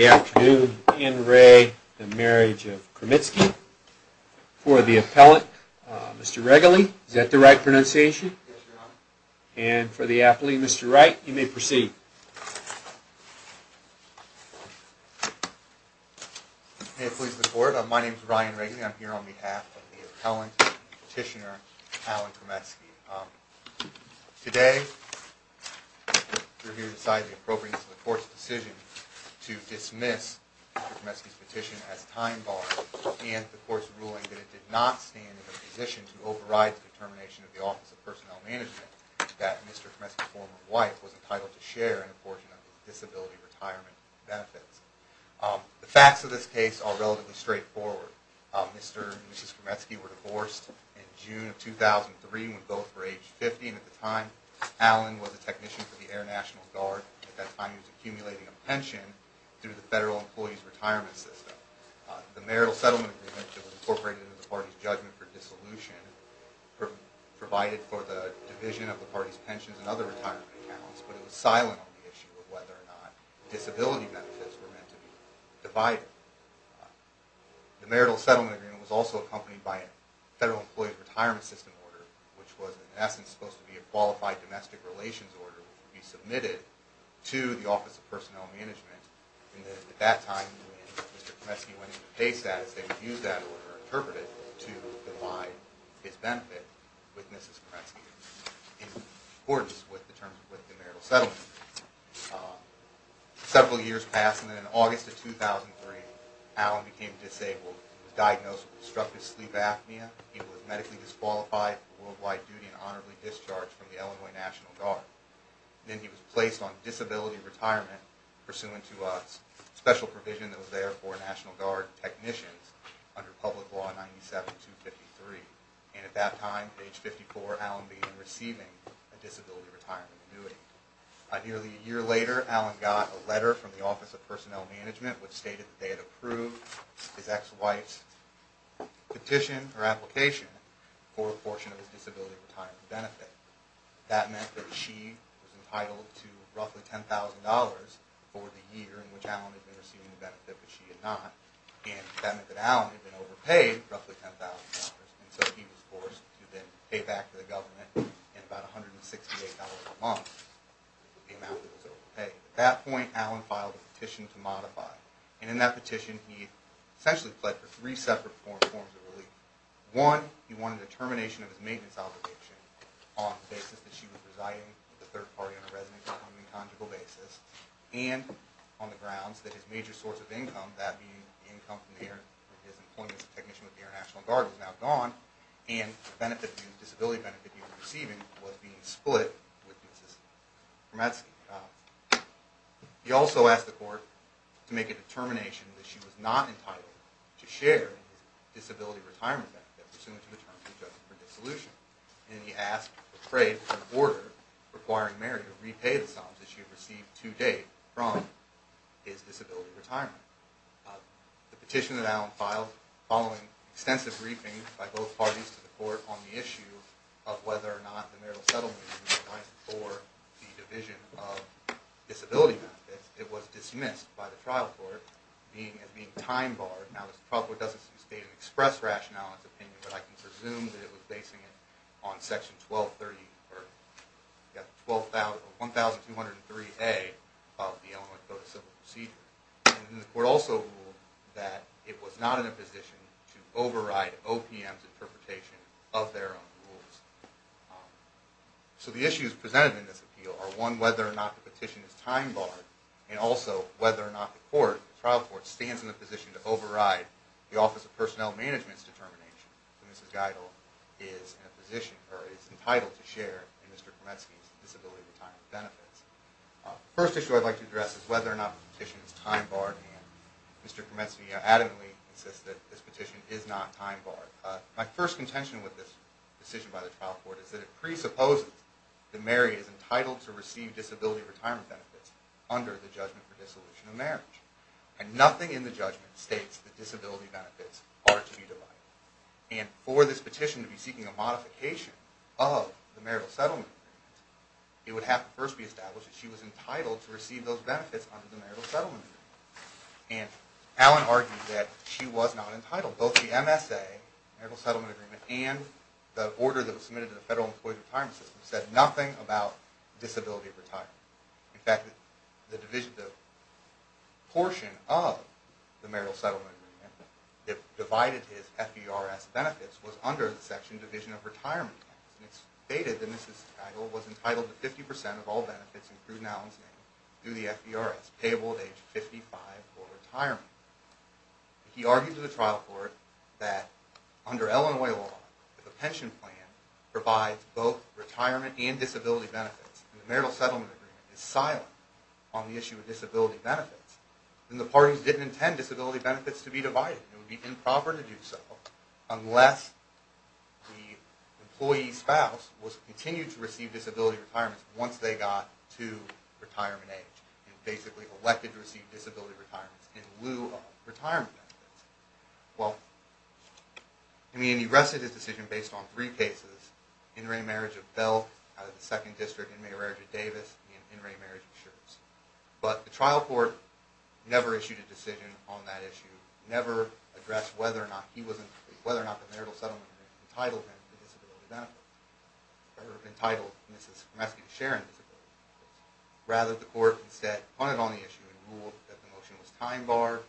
Afternoon and Ray, the marriage of Kremitzki for the appellant, Mr Wrigley. Is that the right pronunciation? And for the athlete, Mr Wright, you may proceed. May it please the court, my name is Ryan Wrigley. I'm here on behalf of the appellant petitioner, Alan Kremitzki. Today we're here to decide the appropriateness of the court's decision to dismiss Mr Kremitzki's petition as time barred and the court's ruling that it did not stand in a position to override the determination of the Office of Personnel Management that Mr Kremitzki's former wife was entitled to share an apportion of disability retirement benefits. The facts of this case are relatively straightforward. Mr and Mrs Kremitzki were divorced in June of 2003 when both were age 50 and at the time Alan was a technician for the Air National Guard. At that time he was accumulating a pension through the Federal Employees Retirement System. The marital settlement agreement was incorporated into the party's judgment for dissolution provided for the division of the party's pensions and other retirement accounts but it was silent on the issue of whether or not disability benefits were meant to be divided. The marital settlement agreement was also accompanied by a Federal Employees Retirement System order which was in essence supposed to be a qualified domestic relations order which would be submitted to the Office of Personnel Management and at that time Mr Kremitzki went into pay status they would use that order interpreted to divide his benefit with Mrs Kremitzki in accordance with the terms with the marital settlement. Several years passed and then in August of 2003 Alan became disabled. He was diagnosed with obstructive sleep apnea. He was medically disqualified for worldwide duty and honorably discharged from the Illinois National Guard. Then he was placed on disability retirement pursuant to a special provision that was there for National Guard technicians under Public Law 97-253 and at that time, age 54, Alan began receiving a disability retirement annuity. Nearly a year later Alan got a letter from the Office of Personnel Management which stated that they had approved his ex-wife's petition or application for a portion of his disability retirement benefit. That meant that she was entitled to roughly $10,000 for the year in which Alan had been receiving the benefit but she had not and that meant that Alan had been overpaid roughly $10,000 and so he was forced to then pay back to the government in about $168 a month, the amount that was overpaid. At that point Alan filed a petition to modify and in that petition he essentially pledged for three separate forms of relief. One, he wanted a termination of his maintenance obligation on the basis that she was residing with the third party on a residence on an incongruous basis and on the grounds that his major source of income, that being the income from his employment as a technician with the International Guard, was now gone and the disability benefit he was receiving was being split with Mrs. Brometsky. He also asked the court to make a determination that she was not entitled to share his disability retirement benefit pursuant to the terms of her dissolution and he asked or prayed for an order requiring Mary to repay the sums that she had received to date from his disability retirement. The petition that Alan filed following extensive briefings by both parties to the court on the issue of whether or not the marital settlement was revised for the division of disability benefits, it was dismissed by the trial court as being time barred. Now the trial court doesn't state an express rationale in its opinion, but I can presume that it was basing it on section 1230, or yeah, 1203A of the Illinois Code of Civil Procedure and the court also ruled that it was not in a position to override OPM's interpretation of their own rules. So the issues presented in this appeal are one, whether or not the petition is time barred and also whether or not the court, the trial court, stands in a position to Mrs. Geidel is in a position or is entitled to share in Mr. Kremetsky's disability retirement benefits. First issue I'd like to address is whether or not the petition is time barred and Mr. Kremetsky adamantly insists that this petition is not time barred. My first contention with this decision by the trial court is that it presupposes that Mary is entitled to receive disability retirement benefits under the judgment for dissolution of marriage and nothing in the judgment states that disability benefits are to be divided and for this petition to be seeking a modification of the marital settlement, it would have to first be established that she was entitled to receive those benefits under the marital settlement and Allen argued that she was not entitled. Both the MSA, marital settlement agreement, and the order that was submitted to the Federal Employee Retirement System said nothing about disability retirement. In fact, the division, the portion of the marital settlement agreement that divided his FBRS benefits was under the section division of retirement and it's stated that Mrs. Geidel was entitled to 50 percent of all benefits including Allen's name through the FBRS, payable at age 55 for retirement. He argued to the trial court that under Illinois law, the pension plan provides both retirement and disability benefits and the marital settlement agreement is benefits. Then the parties didn't intend disability benefits to be divided. It would be improper to do so unless the employee's spouse was continued to receive disability retirements once they got to retirement age and basically elected to receive disability retirements in lieu of retirement benefits. Well, I mean he rested his decision based on three cases, in-ray marriage of Bell out of the second district, in-ray marriage of Davis, and in-ray marriage of Schurz. But the trial court never issued a decision on that issue, never addressed whether or not he wasn't whether or not the marital settlement entitled him to disability benefits or entitled Mrs. Gomeski to share in disability benefits. Rather, the court instead punted on the issue and ruled that the motion was time barred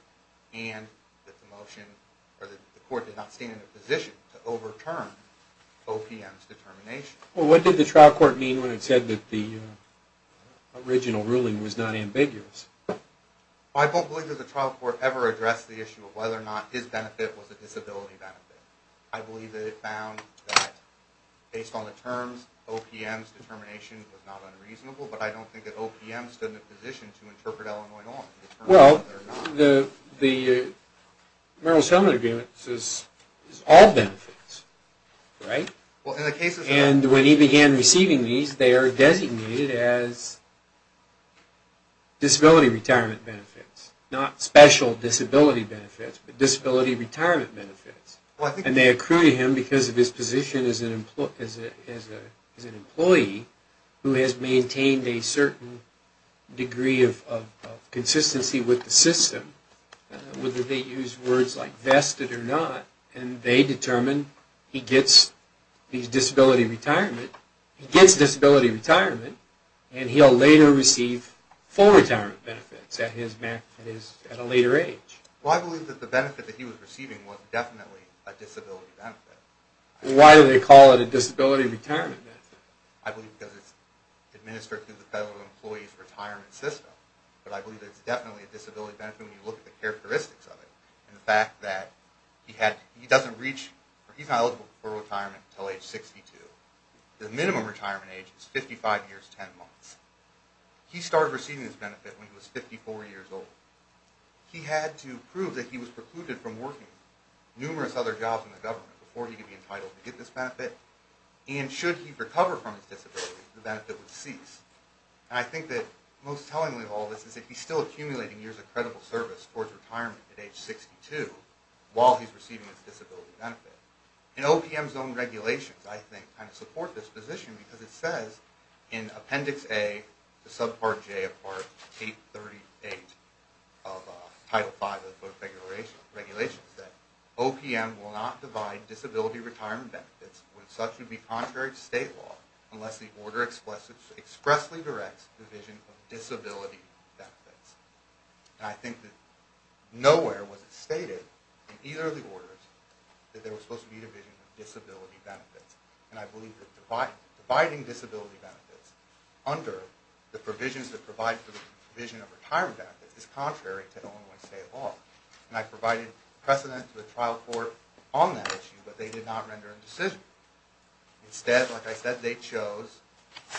and that the motion or the court did not stand in a position to overturn OPM's determination. Well, what did the original ruling was not ambiguous? I don't believe that the trial court ever addressed the issue of whether or not his benefit was a disability benefit. I believe that it found that based on the terms OPM's determination was not unreasonable, but I don't think that OPM stood in a position to interpret Illinois law. Well, the marital settlement agreement says all benefits, right? Well, in the case of Mr. Gomeski, if he began receiving these, they are designated as disability retirement benefits, not special disability benefits, but disability retirement benefits. And they accrue to him because of his position as an employee who has maintained a certain degree of consistency with the system, whether they use words like he gets disability retirement and he'll later receive full retirement benefits at a later age. Well, I believe that the benefit that he was receiving was definitely a disability benefit. Why do they call it a disability retirement benefit? I believe because it's administered through the Federal Employees Retirement System, but I believe it's definitely a disability benefit when you look at the characteristics of it and the fact that he doesn't reach or he's not eligible for retirement until age 62. The minimum retirement age is 55 years, 10 months. He started receiving this benefit when he was 54 years old. He had to prove that he was precluded from working numerous other jobs in the government before he could be entitled to get this benefit. And should he recover from his disability, the benefit would cease. And I think that most tellingly of all this is that he's still accumulating years of credible service towards retirement at age 62 while he's receiving his disability benefit. And OPM's own regulations, I think, kind of support this position because it says in Appendix A to Subpart J of Part 838 of Title V of the Federal Regulations that OPM will not divide disability retirement benefits when such would be contrary to state law unless the order expressly directs division of disability benefits. And I think that nowhere was it stated in either of the orders that there was supposed to be division of disability benefits. And I believe that dividing disability benefits under the provisions that provide for the provision of retirement benefits is contrary to Illinois state law. And I provided precedent to the trial court on that issue, but they did not render a decision. Instead, like I said, they chose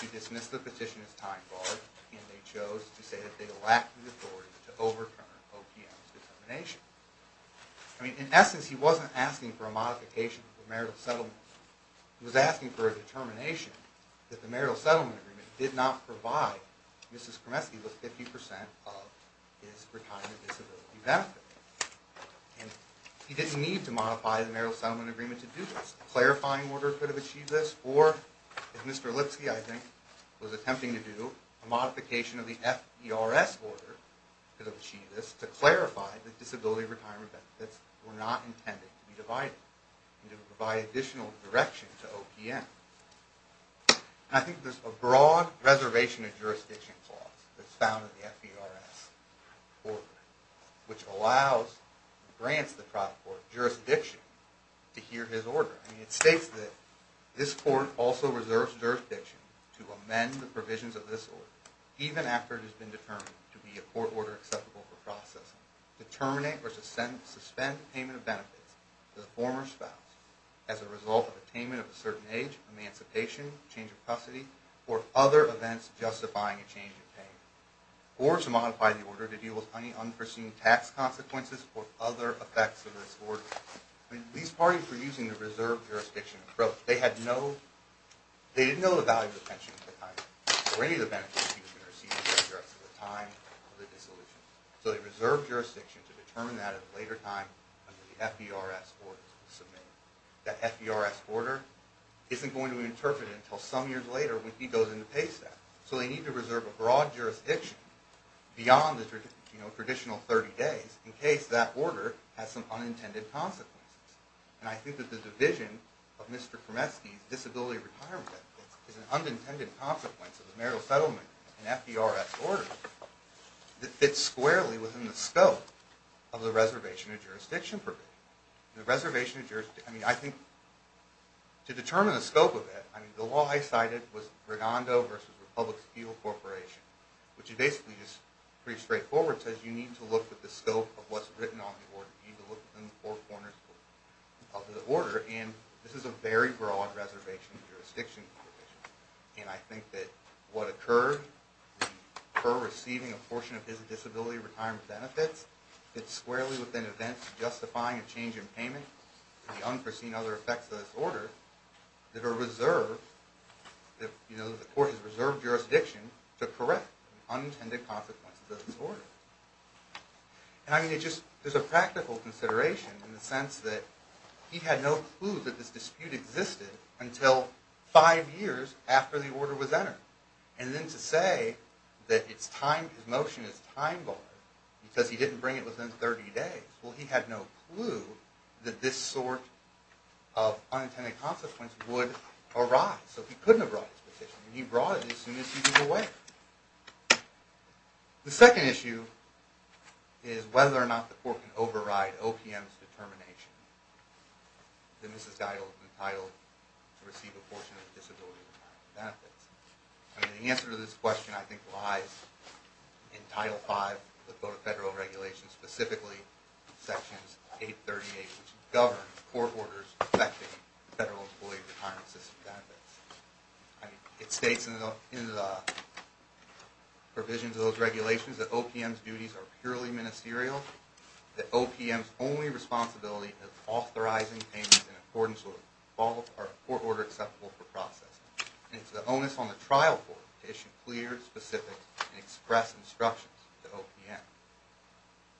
to dismiss the petition as time-barred and they chose to say that they lacked the authority to overturn OPM's determination. I mean, in essence, he wasn't asking for a modification of the marital settlement. He was asking for a determination that the marital settlement agreement did not provide Mrs. Kremesky with 50 percent of his retirement disability benefit. And he didn't need to modify the marital settlement agreement to do this. A clarifying order could have achieved this or, as Mr. Lipsky, I think, was attempting to do, a modification of the FERS order could have achieved this to clarify that disability retirement benefits were not intended to be divided and to provide additional direction to OPM. And I think there's a broad reservation of jurisdiction clause that's found in the FERS order, which allows, grants the trial court jurisdiction to hear his order. I mean, it states that this court also reserves jurisdiction to amend the provisions of this order, even after it has been determined to be a court order acceptable for processing. Determinate or suspend payment of benefits to the former spouse as a result of attainment of a certain age, emancipation, change of custody, or other events justifying a change of payment. Or to modify the order to deal with any unforeseen tax consequences or other effects of this order. I mean, these parties were using the reserve jurisdiction approach. They had no, they didn't know the value of the pension at the time or any of the benefits he was going to receive for the rest of the time of the dissolution. So they reserved jurisdiction to determine that at a later time under the FERS orders to submit. That FERS order isn't going to be interpreted until some years later when he goes into pay staff. So they need to reserve a broad jurisdiction beyond the, you know, traditional 30 days in case that order has some unintended consequences. And I think that the division of Mr. Kremeski's disability retirement benefits is an unintended consequence of the marital settlement and FERS order that fits squarely within the scope of the reservation of jurisdiction provision. The reservation of jurisdiction, I mean, I think to determine the scope of it, I mean, the law I cited was Rigando versus Republic Steel Corporation, which is basically just pretty straightforward. It says you need to look at the scope of what's written on the corners of the order, and this is a very broad reservation of jurisdiction provision. And I think that what occurred, the per receiving a portion of his disability retirement benefits, fits squarely within events justifying a change in payment to the unforeseen other effects of this order that are reserved, that, you know, the court has reserved jurisdiction to correct unintended consequences of this order. And I mean, it just, there's a practical consideration in the sense that he had no clue that this dispute existed until five years after the order was entered. And then to say that it's time, his motion is time-barred because he didn't bring it within 30 days. Well, he had no clue that this sort of unintended consequence would arise. So he couldn't have brought his petition, and he brought it as soon as he was aware. The second issue is whether or not the court can override OPM's determination that Mrs. Geidel is entitled to receive a portion of the disability retirement benefits. I mean, the answer to this question, I think, lies in Title V of the Federal Regulation, specifically Sections 838, which govern court orders affecting federal employee retirement system benefits. I mean, it states in the provisions of those regulations that OPM's duties are purely ministerial, that OPM's only responsibility is authorizing payments in accordance with all of our court order acceptable for process, and it's the onus on the trial court to issue clear, specific, and express instructions to OPM.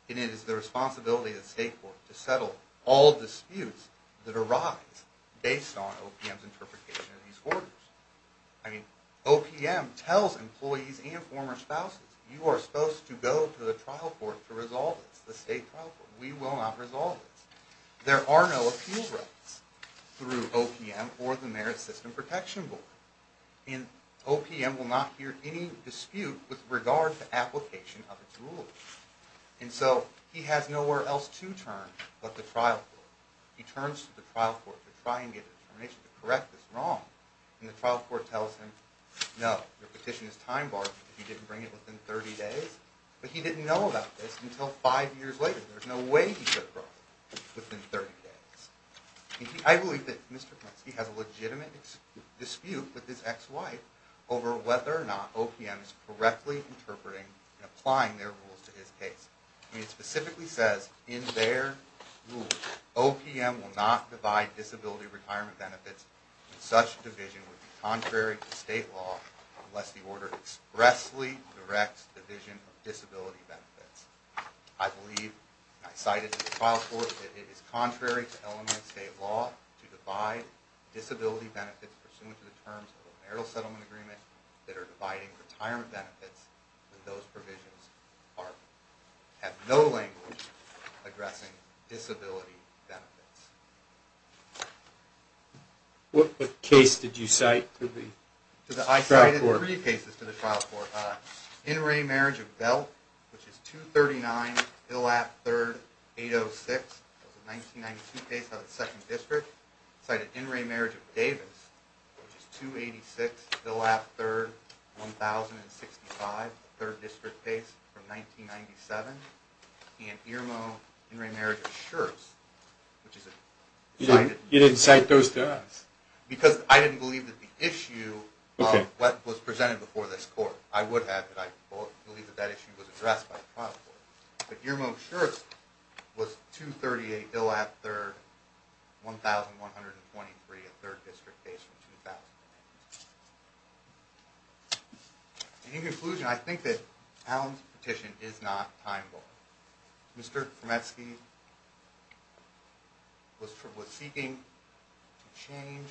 And it is the responsibility of the State Court to settle all disputes that arise based on OPM's interpretation of these orders. I mean, OPM tells employees and former spouses, you are supposed to go to the trial court to resolve this, the state trial court. We will not resolve this. There are no appeal rights through OPM or the Merit System Protection Board, and OPM will not hear any dispute with regard to application of its rules. And so he has nowhere else to turn but the trial court. He turns to the trial court to try and correct this wrong, and the trial court tells him, no, your petition is time-barred because he didn't bring it within 30 days, but he didn't know about this until five years later. There's no way he could have brought it within 30 days. I believe that Mr. Kaminsky has a legitimate dispute with his ex-wife over whether or not OPM is correctly interpreting and applying their rules to his case. I mean, it specifically says in their rules, OPM will not divide disability retirement benefits in such a division would be contrary to state law unless the order expressly directs the vision of disability benefits. I believe, and I cite it to the trial court, that it is contrary to element state law to divide disability benefits pursuant to the terms of a marital settlement agreement that are dividing retirement benefits when those provisions have no language addressing disability benefits. What case did you cite to the trial court? I cited three cases to the trial court. In re marriage of Belt, which is 239 Hillap 3rd 806. That was a 1992 case out of the second district. Cited in re marriage of Davis, which is 286 Hillap 3rd 1065, a third district case from 1997. And Irmo in re marriage of Schurz, which is a You didn't cite those to us? Because I didn't believe that the issue of what was presented before this court. I would have that I believe that that issue was addressed by the trial court. But Irmo Schurz was 238 Hillap 3rd 1123, a third district case from 2008. In conclusion, I think that Allen's petition is not time-bound. Mr. Kremetsky was seeking to change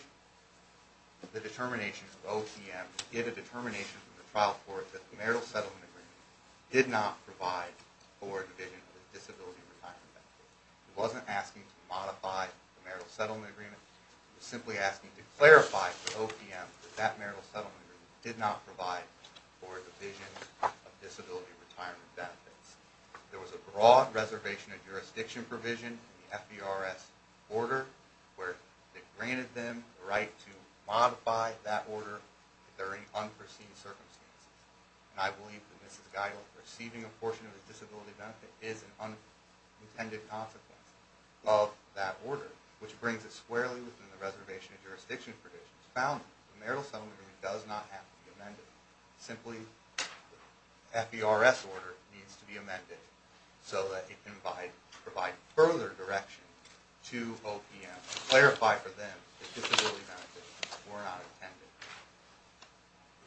the determination of OTM to get a determination from the trial court that the marital settlement agreement did not provide for a division of the disability retirement benefit. He wasn't asking to modify the marital settlement agreement did not provide for the visions of disability retirement benefits. There was a broad reservation of jurisdiction provision in the FBRS order where they granted them the right to modify that order during unforeseen circumstances. And I believe that Mrs. Geigel receiving a portion of the disability benefit is an unintended consequence of that order, which brings it squarely within the reservation of jurisdiction provisions found in the marital settlement agreement does not have to be amended. Simply, the FBRS order needs to be amended so that it can provide further direction to OPM to clarify for them that disability benefits were not intended.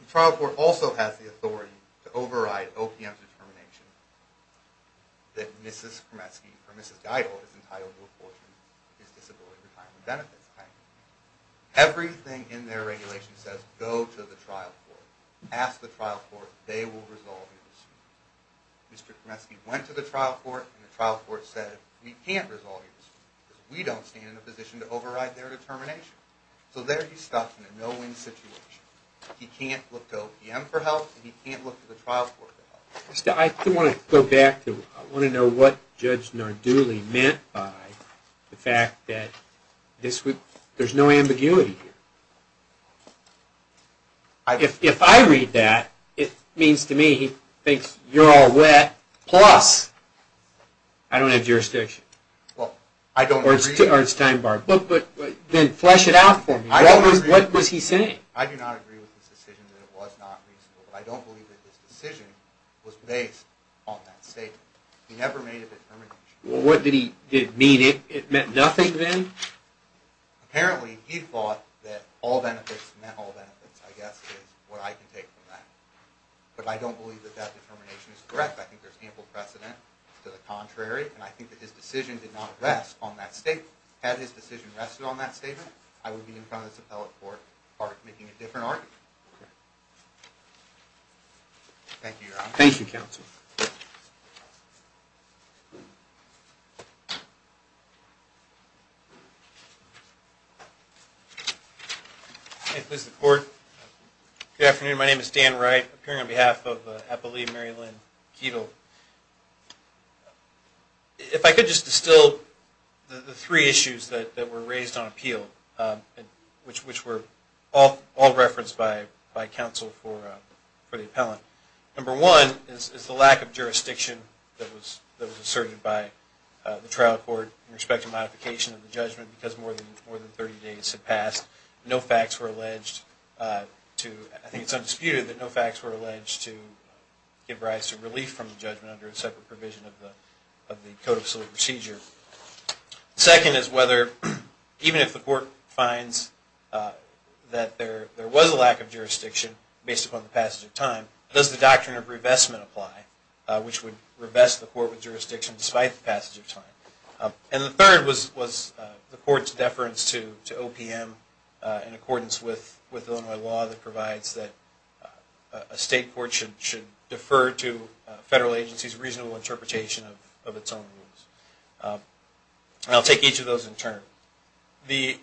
The trial court also has the authority to override OPM's determination that Mrs. Kremetsky or Mrs. Geigel is entitled to a portion of his disability retirement benefits. Everything in their regulation says go to the trial court, ask the trial court, they will resolve your decision. Mr. Kremetsky went to the trial court and the trial court said we can't resolve your decision because we don't stand in a position to override their determination. So there he's stuck in a no-win situation. He can't look to OPM for help and he can't look to the trial court. I do want to go back to, I want to know what Judge Nardulli meant by the fact that there's no ambiguity here. If I read that, it means to me he thinks you're all wet, plus I don't have jurisdiction. Well, I don't agree. Then flesh it out for me. What was he saying? I do not agree with this decision that it was not reasonable, but I don't believe that this decision was based on that statement. He never made a determination. What did he mean? It meant nothing then? Apparently he thought that all benefits meant all benefits, I guess is what I can take from that. But I don't believe that that determination is correct. I think there's ample precedent to the contrary and I think that his decision did not rest on that statement. Had his decision rested on that statement, I would be in front of this appellate court making a different argument. Okay. Thank you, Your Honor. Thank you, counsel. May it please the court. Good afternoon. My name is Dan Wright, appearing on behalf of Appellee Mary Lynn Ketel. If I could just distill the three issues that were raised on appeal, which were all referenced by counsel for the appellant. Number one is the lack of jurisdiction that was asserted by the trial court in respect to modification of the judgment because more than 30 days had passed. No facts were alleged to, I think it's undisputed, that no facts were alleged to give rise to relief from the judgment under a separate provision of the Code of Solute Procedure. Second is whether, even if the court finds that there was a lack of jurisdiction based upon the passage of time, does the doctrine of revestment apply, which would revest the court with jurisdiction despite the passage of time? And the third was the court's deference to OPM in accordance with Illinois law that provides that a state court should defer to federal agencies' reasonable interpretation of its own rules. And I'll take each of those in turn. The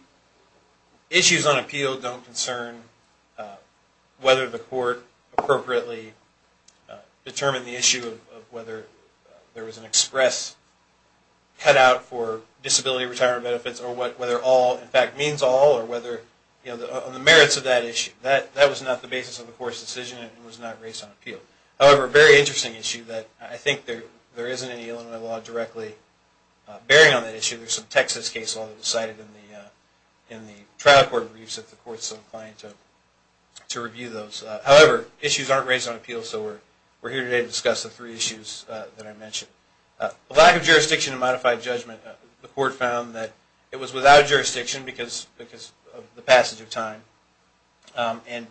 issues on appeal don't concern whether the court appropriately determine the issue of whether there was an express cutout for disability retirement benefits or whether all, in fact, means all or whether, you know, on the merits of that issue. That was not the basis of the court's decision and was not raised on appeal. However, a very interesting issue that I think there isn't any Illinois law directly bearing on that issue. There's some Texas case law that was cited in the trial court briefs, if the court's so inclined to review those. However, issues aren't raised on appeal, so we're here today to discuss the three issues that I mentioned. The lack of jurisdiction in modified judgment, the court found that it was without jurisdiction because of the passage of time, and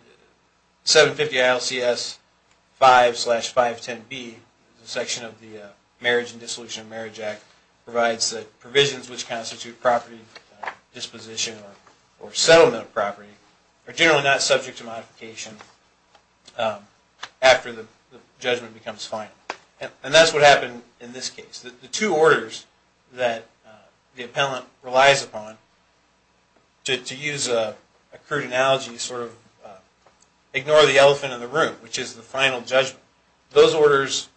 750 ILCS 5-510B, the section of the Marriage and Dissolution of Marriage Act, provides that provisions which constitute property disposition or settlement of property are generally not subject to modification after the judgment becomes final. And that's what happened in this case. The two orders that the appellant relies upon, to use a crude analogy, sort of ignore the elephant in the room, which is the final judgment. Those orders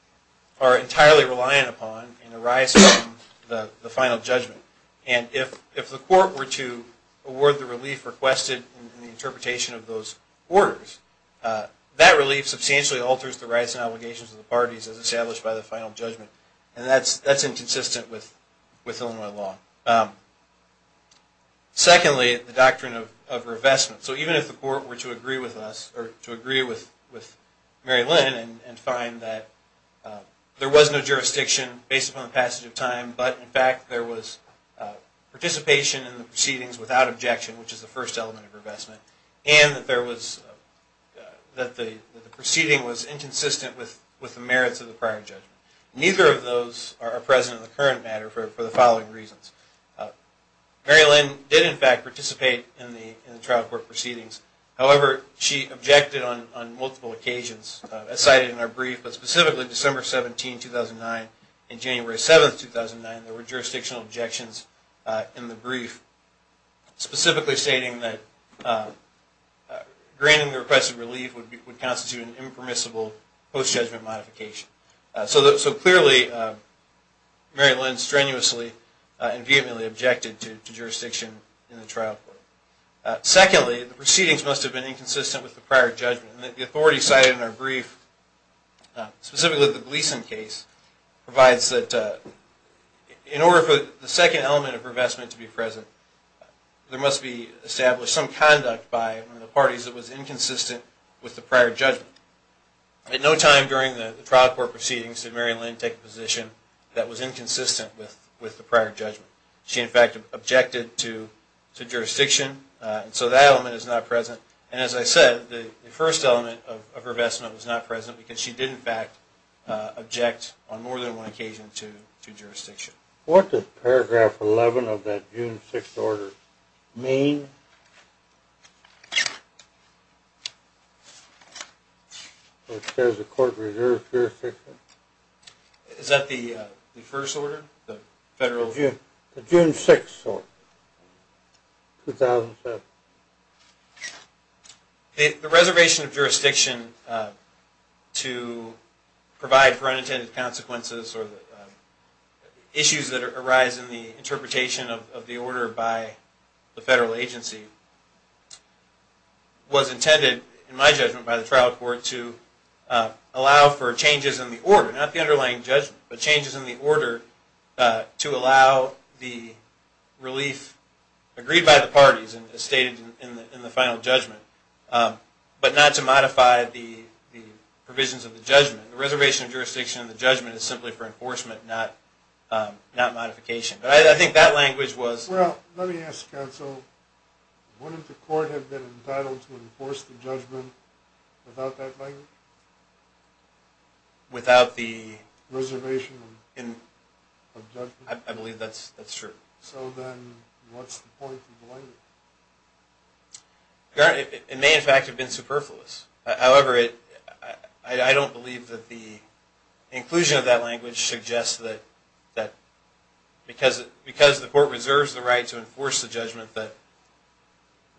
are entirely reliant upon and arise from the final judgment. And if the court were to award the relief requested in the interpretation of those orders, that relief substantially alters the rights and obligations of the parties as established by the final judgment. And that's inconsistent with Illinois law. Secondly, the doctrine of revestment. So even if the court were to agree with us, or to agree with Mary Lynn and find that there was no jurisdiction based upon the passage of time, but in fact there was participation in the proceedings without objection, which is the first element of revestment, and that the proceeding was inconsistent with the merits of the prior judgment. Neither of those are present in the current matter for the following reasons. Mary Lynn did in fact participate in the trial court proceedings. However, she objected on multiple occasions, as cited in our brief, but specifically December 17, 2009 and January 7, 2009, there were jurisdictional objections in the brief, specifically stating that granting the requested relief would constitute an impermissible post-judgment modification. So clearly Mary Lynn strenuously and vehemently objected to jurisdiction in the trial court. Secondly, the proceedings must have been inconsistent with the prior judgment. The authority cited in our brief, specifically the Gleason case, provides that in order for the second element of revestment to be present, there must be established some conduct by one of the parties that was inconsistent with the prior judgment. At no time during the trial court proceedings did Mary Lynn take a position that was inconsistent with the prior judgment. She in fact objected to jurisdiction, and so that element is not present. And as I said, the first element of revestment was not present because she did in fact object on more than one occasion to jurisdiction. What does paragraph 11 of that June 6th order mean? It says the court reserves jurisdiction. Is that the first order, the federal? June 6th, 2007. The reservation of jurisdiction to provide for unintended consequences or issues that arise in the interpretation of the order by the federal agency was intended, in my judgment, by the trial court to allow for changes in the order, not the underlying judgment, but changes in the order to allow the relief agreed by the parties and stated in the final judgment, but not to modify the provisions of the judgment. The reservation of not modification. But I think that language was... Well, let me ask counsel, wouldn't the court have been entitled to enforce the judgment without that language? Without the reservation of judgment? I believe that's true. So then what's the point of the language? It may in fact have been superfluous. However, I don't believe that the inclusion of that language suggests that because the court reserves the right to enforce the judgment, that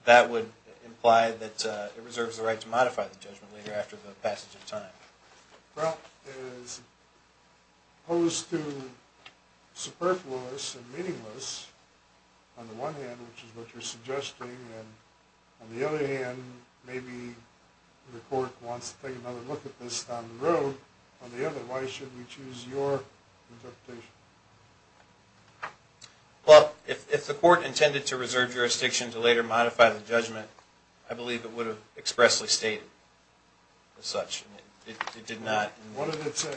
that would imply that it reserves the right to modify the judgment later after the passage of time. Well, as opposed to superfluous and meaningless, on the one hand, which is what you're suggesting, and on the other hand, maybe the court wants to take another look at this down the line. Well, if the court intended to reserve jurisdiction to later modify the judgment, I believe it would have expressly stated as such. It did not. What did it say?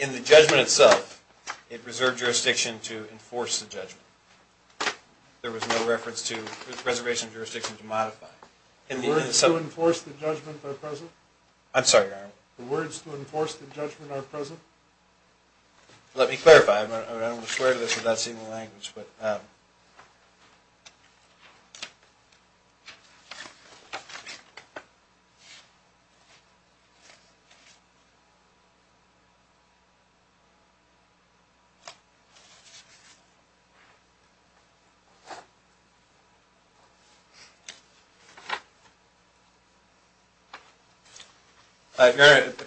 In the judgment itself, it reserved jurisdiction to enforce the judgment. There was no reference to reservation of jurisdiction to modify. The words to enforce the judgment are present? I'm sorry, Your Honor. The words to Let me clarify. I don't want to swear to this without seeing the language. Your Honor,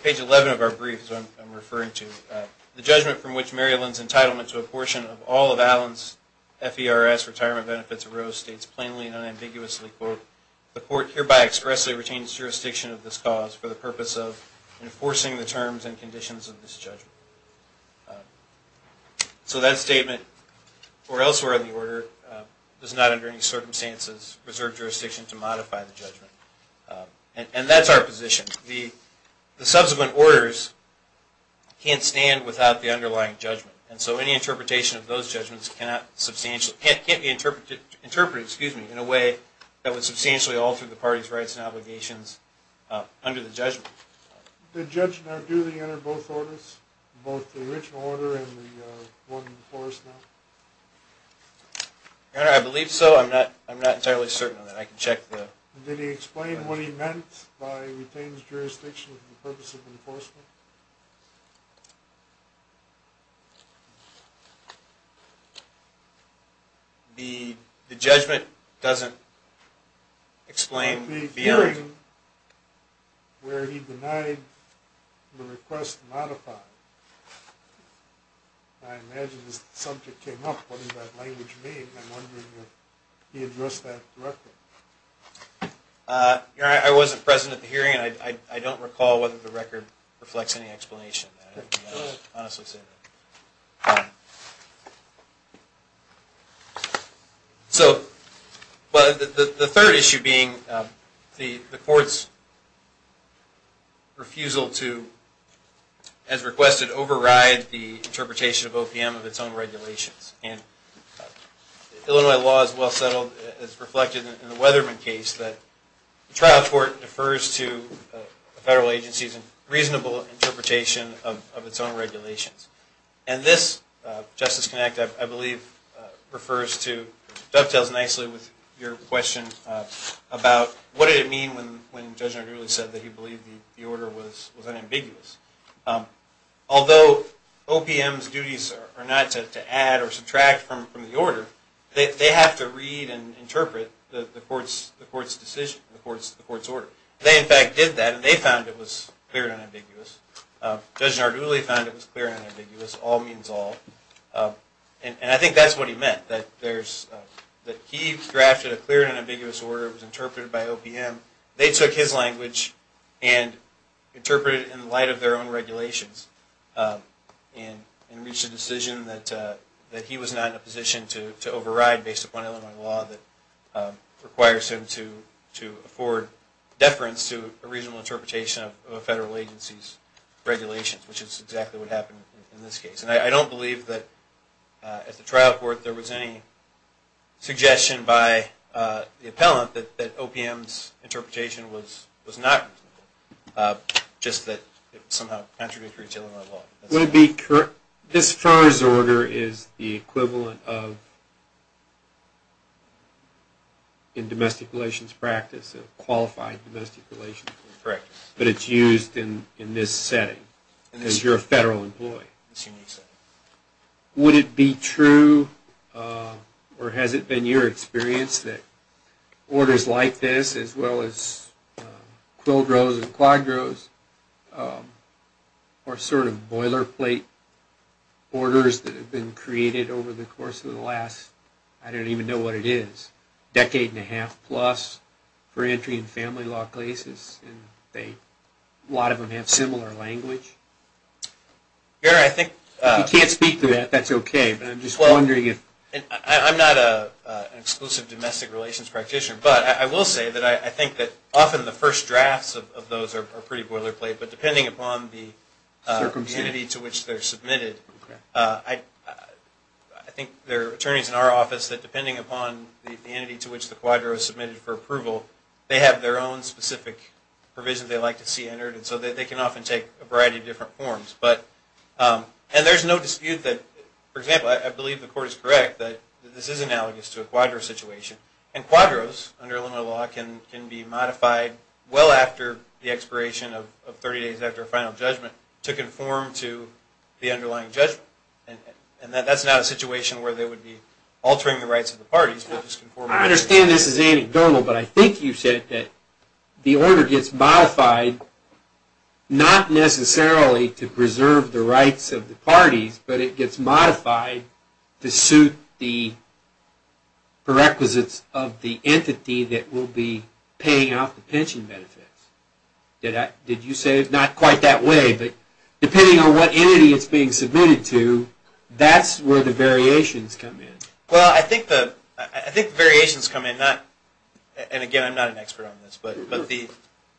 page 11 of our brief is what I'm referring to. The judgment from which Maryland's entitlement to abortion of all of FERS retirement benefits arose states plainly and unambiguously, quote, the court hereby expressly retains jurisdiction of this cause for the purpose of enforcing the terms and conditions of this judgment. So that statement, or elsewhere in the order, does not under any circumstances preserve jurisdiction to modify the judgment. And that's our position. The subsequent orders can't stand without the underlying judgment, and so any interpretation of substantial, can't be interpreted, interpreted, excuse me, in a way that would substantially alter the party's rights and obligations under the judgment. Did the judge now duly enter both orders, both the original order and the one before us now? Your Honor, I believe so. I'm not, I'm not entirely certain on that. I can check the Did he explain what he meant by jurisdiction for the purpose of enforcement? The, the judgment doesn't explain the hearing where he denied the request to modify. I imagine this subject came up, what did that language mean? I'm wondering if he addressed that directly. Your Honor, I wasn't present at the hearing, and I don't recall whether the record reflects any explanation. I can't honestly say that. So, but the third issue being the court's refusal to, as requested, override the interpretation of OPM of its own regulations. And Illinois law is well settled, it's a Weatherman case, that the trial court defers to federal agencies and reasonable interpretation of its own regulations. And this, Justice Connick, I believe refers to, dovetails nicely with your question about what did it mean when, when Judge Nardulli said that he believed the order was, was unambiguous. Although OPM's duties are not to add or subtract from, from the order, they, they have to read and interpret the, the court's, the court's decision, the court's, the court's order. They in fact did that, and they found it was clear and ambiguous. Judge Nardulli found it was clear and ambiguous, all means all. And, and I think that's what he meant, that there's, that he drafted a clear and ambiguous order, it was interpreted by OPM. They took his language and interpreted it in light of their own regulations, and, and reached a decision that, that he was not in a position to, to override based upon Illinois law that requires him to, to afford deference to a reasonable interpretation of a federal agency's regulations, which is exactly what happened in this case. And I don't believe that at the trial court there was any suggestion by the appellant that, that OPM's interpretation was, was not, just that it somehow contradicted Illinois law. Would it be, this Farrer's order is the equivalent of, in domestic relations practice, a qualified domestic relations practice, but it's used in, in this setting, and as you're a federal employee. Would it be true, or has it been your experience that orders like this, as well as Quilgroves and Quadroves, are sort of boilerplate orders that have been created over the course of the last, I don't even know what it is, decade and a half plus, for entry in family law cases, and they, a lot of them have similar language? Here, I think... You can't speak to that, that's okay, but I'm just wondering if... I'm not a, an exclusive domestic relations practitioner, but I will say that I think that often the first drafts of those are pretty boilerplate, but depending upon the circumstance to which they're submitted, I think there are attorneys in our office that, depending upon the entity to which the Quadro is submitted for approval, they have their own specific provisions they like to see entered, and so they can often take a variety of different forms, but, and there's no dispute that, for example, I believe the court is correct that this is analogous to a Quadro situation, and Quadroves, under Illinois law, can, be modified well after the expiration of 30 days after a final judgment to conform to the underlying judgment, and that's not a situation where they would be altering the rights of the parties, but just conforming... I understand this is anecdotal, but I think you said that the order gets modified, not necessarily to preserve the rights of the parties, but it gets modified to suit the prerequisites of the entity that will be paying off the pension benefits. Did I, did you say it's not quite that way, but depending on what entity it's being submitted to, that's where the variations come in. Well, I think the, I think variations come in, not, and again, I'm not an expert on this, but, but the...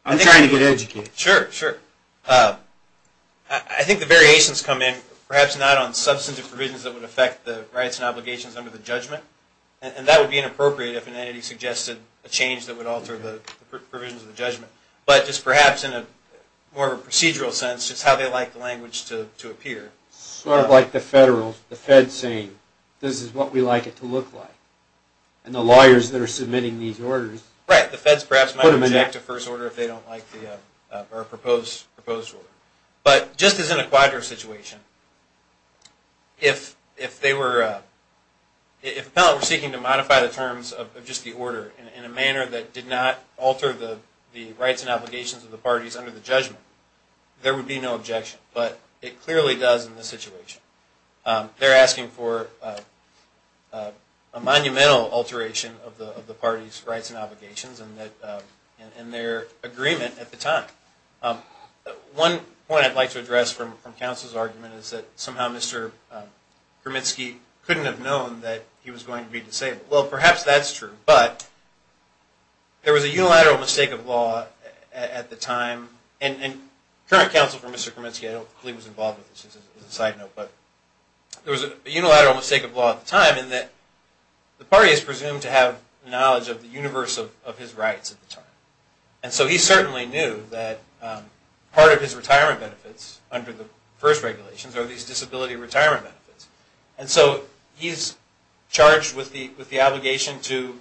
I'm trying to get educated. Sure, sure. I think the variations come in, perhaps not on substantive provisions that would affect the rights and obligations under the judgment, and that would be inappropriate if an entity suggested a change that would alter the provisions of the judgment, but just perhaps in a more of a procedural sense, just how they like the language to appear. Sort of like the federal, the Fed saying, this is what we like it to look like, and the lawyers that are submitting these orders... Right, the Feds perhaps might reject a first order if they don't like the, or a proposed order, but just as in a if they were, if appellant were seeking to modify the terms of just the order in a manner that did not alter the the rights and obligations of the parties under the judgment, there would be no objection, but it clearly does in this situation. They're asking for a monumental alteration of the of the party's rights and obligations, and that, and their agreement at the time. One point I'd like to address from counsel's argument is that somehow Mr. Kermitsky couldn't have known that he was going to be disabled. Well, perhaps that's true, but there was a unilateral mistake of law at the time, and current counsel for Mr. Kermitsky, I don't believe was involved with this, as a side note, but there was a unilateral mistake of law at the time in that the party is presumed to have knowledge of the universe of his rights at the time, and so he certainly knew that part of his retirement benefits under the first regulations are these disability retirement benefits, and so he's charged with the obligation to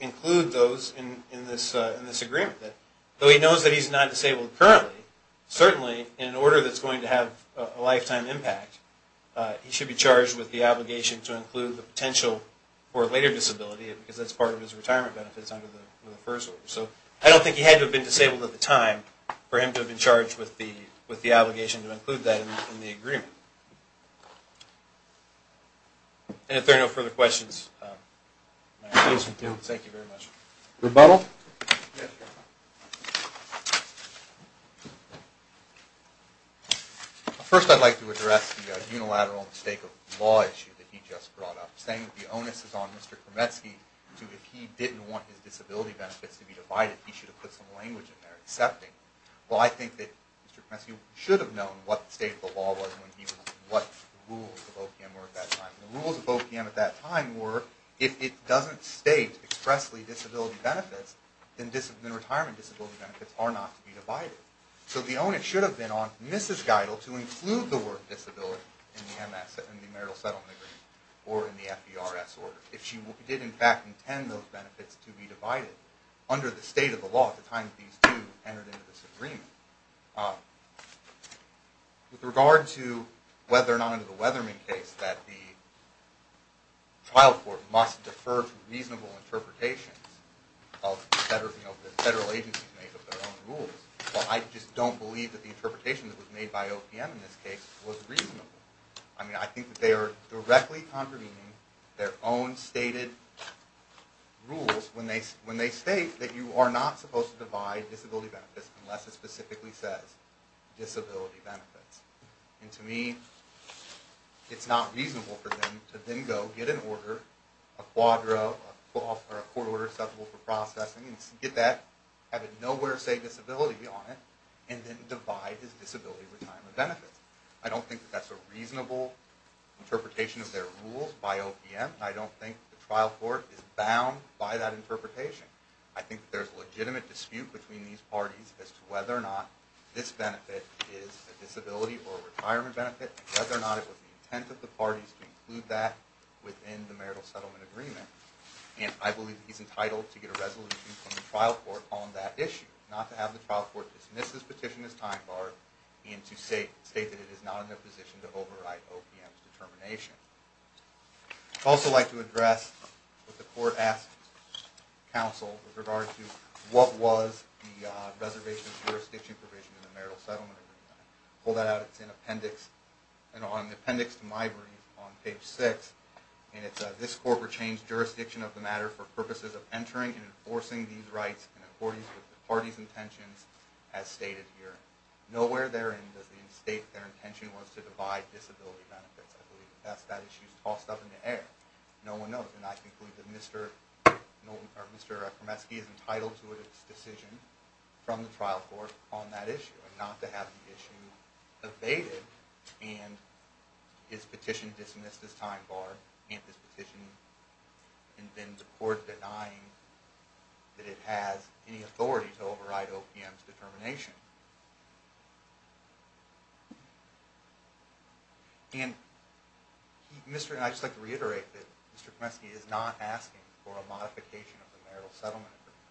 include those in this agreement. Though he knows that he's not disabled currently, certainly in an order that's going to have a lifetime impact, he should be charged with the obligation to include the potential for later disability, because that's part of his retirement benefits under the first order. So I don't think he had to have been disabled at the time for him to have been charged with the obligation to include that in the agreement. And if there are no further questions, thank you very much. Rebuttal? First, I'd like to address the unilateral mistake of law issue that he just brought up, saying that the onus is on Mr. Kermitsky to, if he didn't want his disability benefits to be divided, he should have put some language in there accepting, well I think that Mr. Kermitsky should have known what the state of the law was when he was, what the rules of OPM were at that time, and the rules of OPM at that time were, if it doesn't state expressly disability benefits, then retirement disability benefits are not to be divided. So the onus should have been on Mrs. Geidel to include the word disability in the MS, in the marital settlement agreement, or in the FDRS order. If she did in fact intend those benefits to be divided under the state of the law at the time that these two entered into this agreement. With regard to whether or not under the Weatherman case that the trial court must defer to reasonable interpretations of the federal agency to make up their own rules, well I just don't believe that the interpretation that was made by OPM in this case was reasonable. I mean, I think that they are directly contravening their own stated rules when they, when they state that you are not supposed to divide disability benefits unless it specifically says disability benefits. And to me, it's not reasonable for them to then go get an order, a quadra, or a court order acceptable for processing, and get that, have it nowhere say disability on it, and then divide his disability retirement benefits. I don't think that's a reasonable interpretation of their rules by OPM. I don't think the trial court is bound by that interpretation. I think there's legitimate dispute between these parties as to whether or not this benefit is a disability or retirement benefit, whether or not it was the intent of the parties to include that within the marital settlement agreement. And I believe he's entitled to get a resolution from the trial court on that issue, not to have the trial court dismiss this petition as time bar, and to say, state that it is not in their position to override OPM's I'd also like to address what the court asked counsel with regard to what was the reservation jurisdiction provision in the marital settlement agreement. Pull that out, it's in appendix, and on the appendix to my brief, on page six, and it says, this court rechanged jurisdiction of the matter for purposes of entering and enforcing these rights in accordance with the party's intentions as stated here. Nowhere therein does it state their intention was to divide disability benefits. I believe that's that issue's tossed up in the air. No one knows, and I believe that Mr. Nolten or Mr. Ekremetsky is entitled to its decision from the trial court on that issue, and not to have the issue evaded, and his petition dismissed as time bar, and this petition, and then the court denying that it has any authority to override OPM's determination. And Mr., I'd just like to reiterate that Mr. Ekremetsky is not asking for a modification of the marital settlement agreement.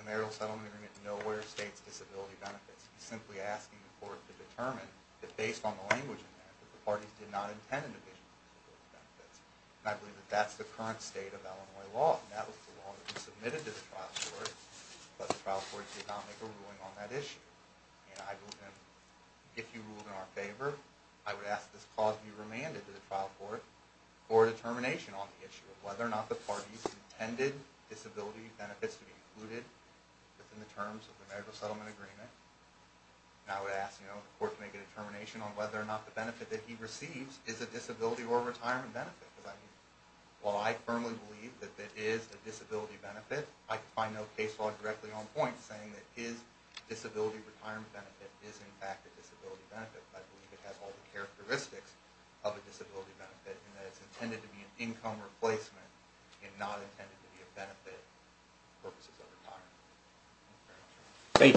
The marital settlement agreement nowhere states disability benefits. He's simply asking the court to determine that based on the language in there, that the parties did not intend to divide disability benefits. I believe that that's the current state of Illinois law, and that was the law that was submitted to the trial court, but the trial court did not make a ruling on that issue, and I believe that if you ruled in our this clause be remanded to the trial court for a determination on the issue of whether or not the parties intended disability benefits to be included within the terms of the marital settlement agreement, I would ask the court to make a determination on whether or not the benefit that he receives is a disability or retirement benefit. Because I mean, while I firmly believe that it is a disability benefit, I find no case law directly on point saying that his disability retirement benefit is in fact a disability benefit. I believe it has all the characteristics of a disability benefit, and that it's intended to be an income replacement and not intended to be a benefit purposes of retirement.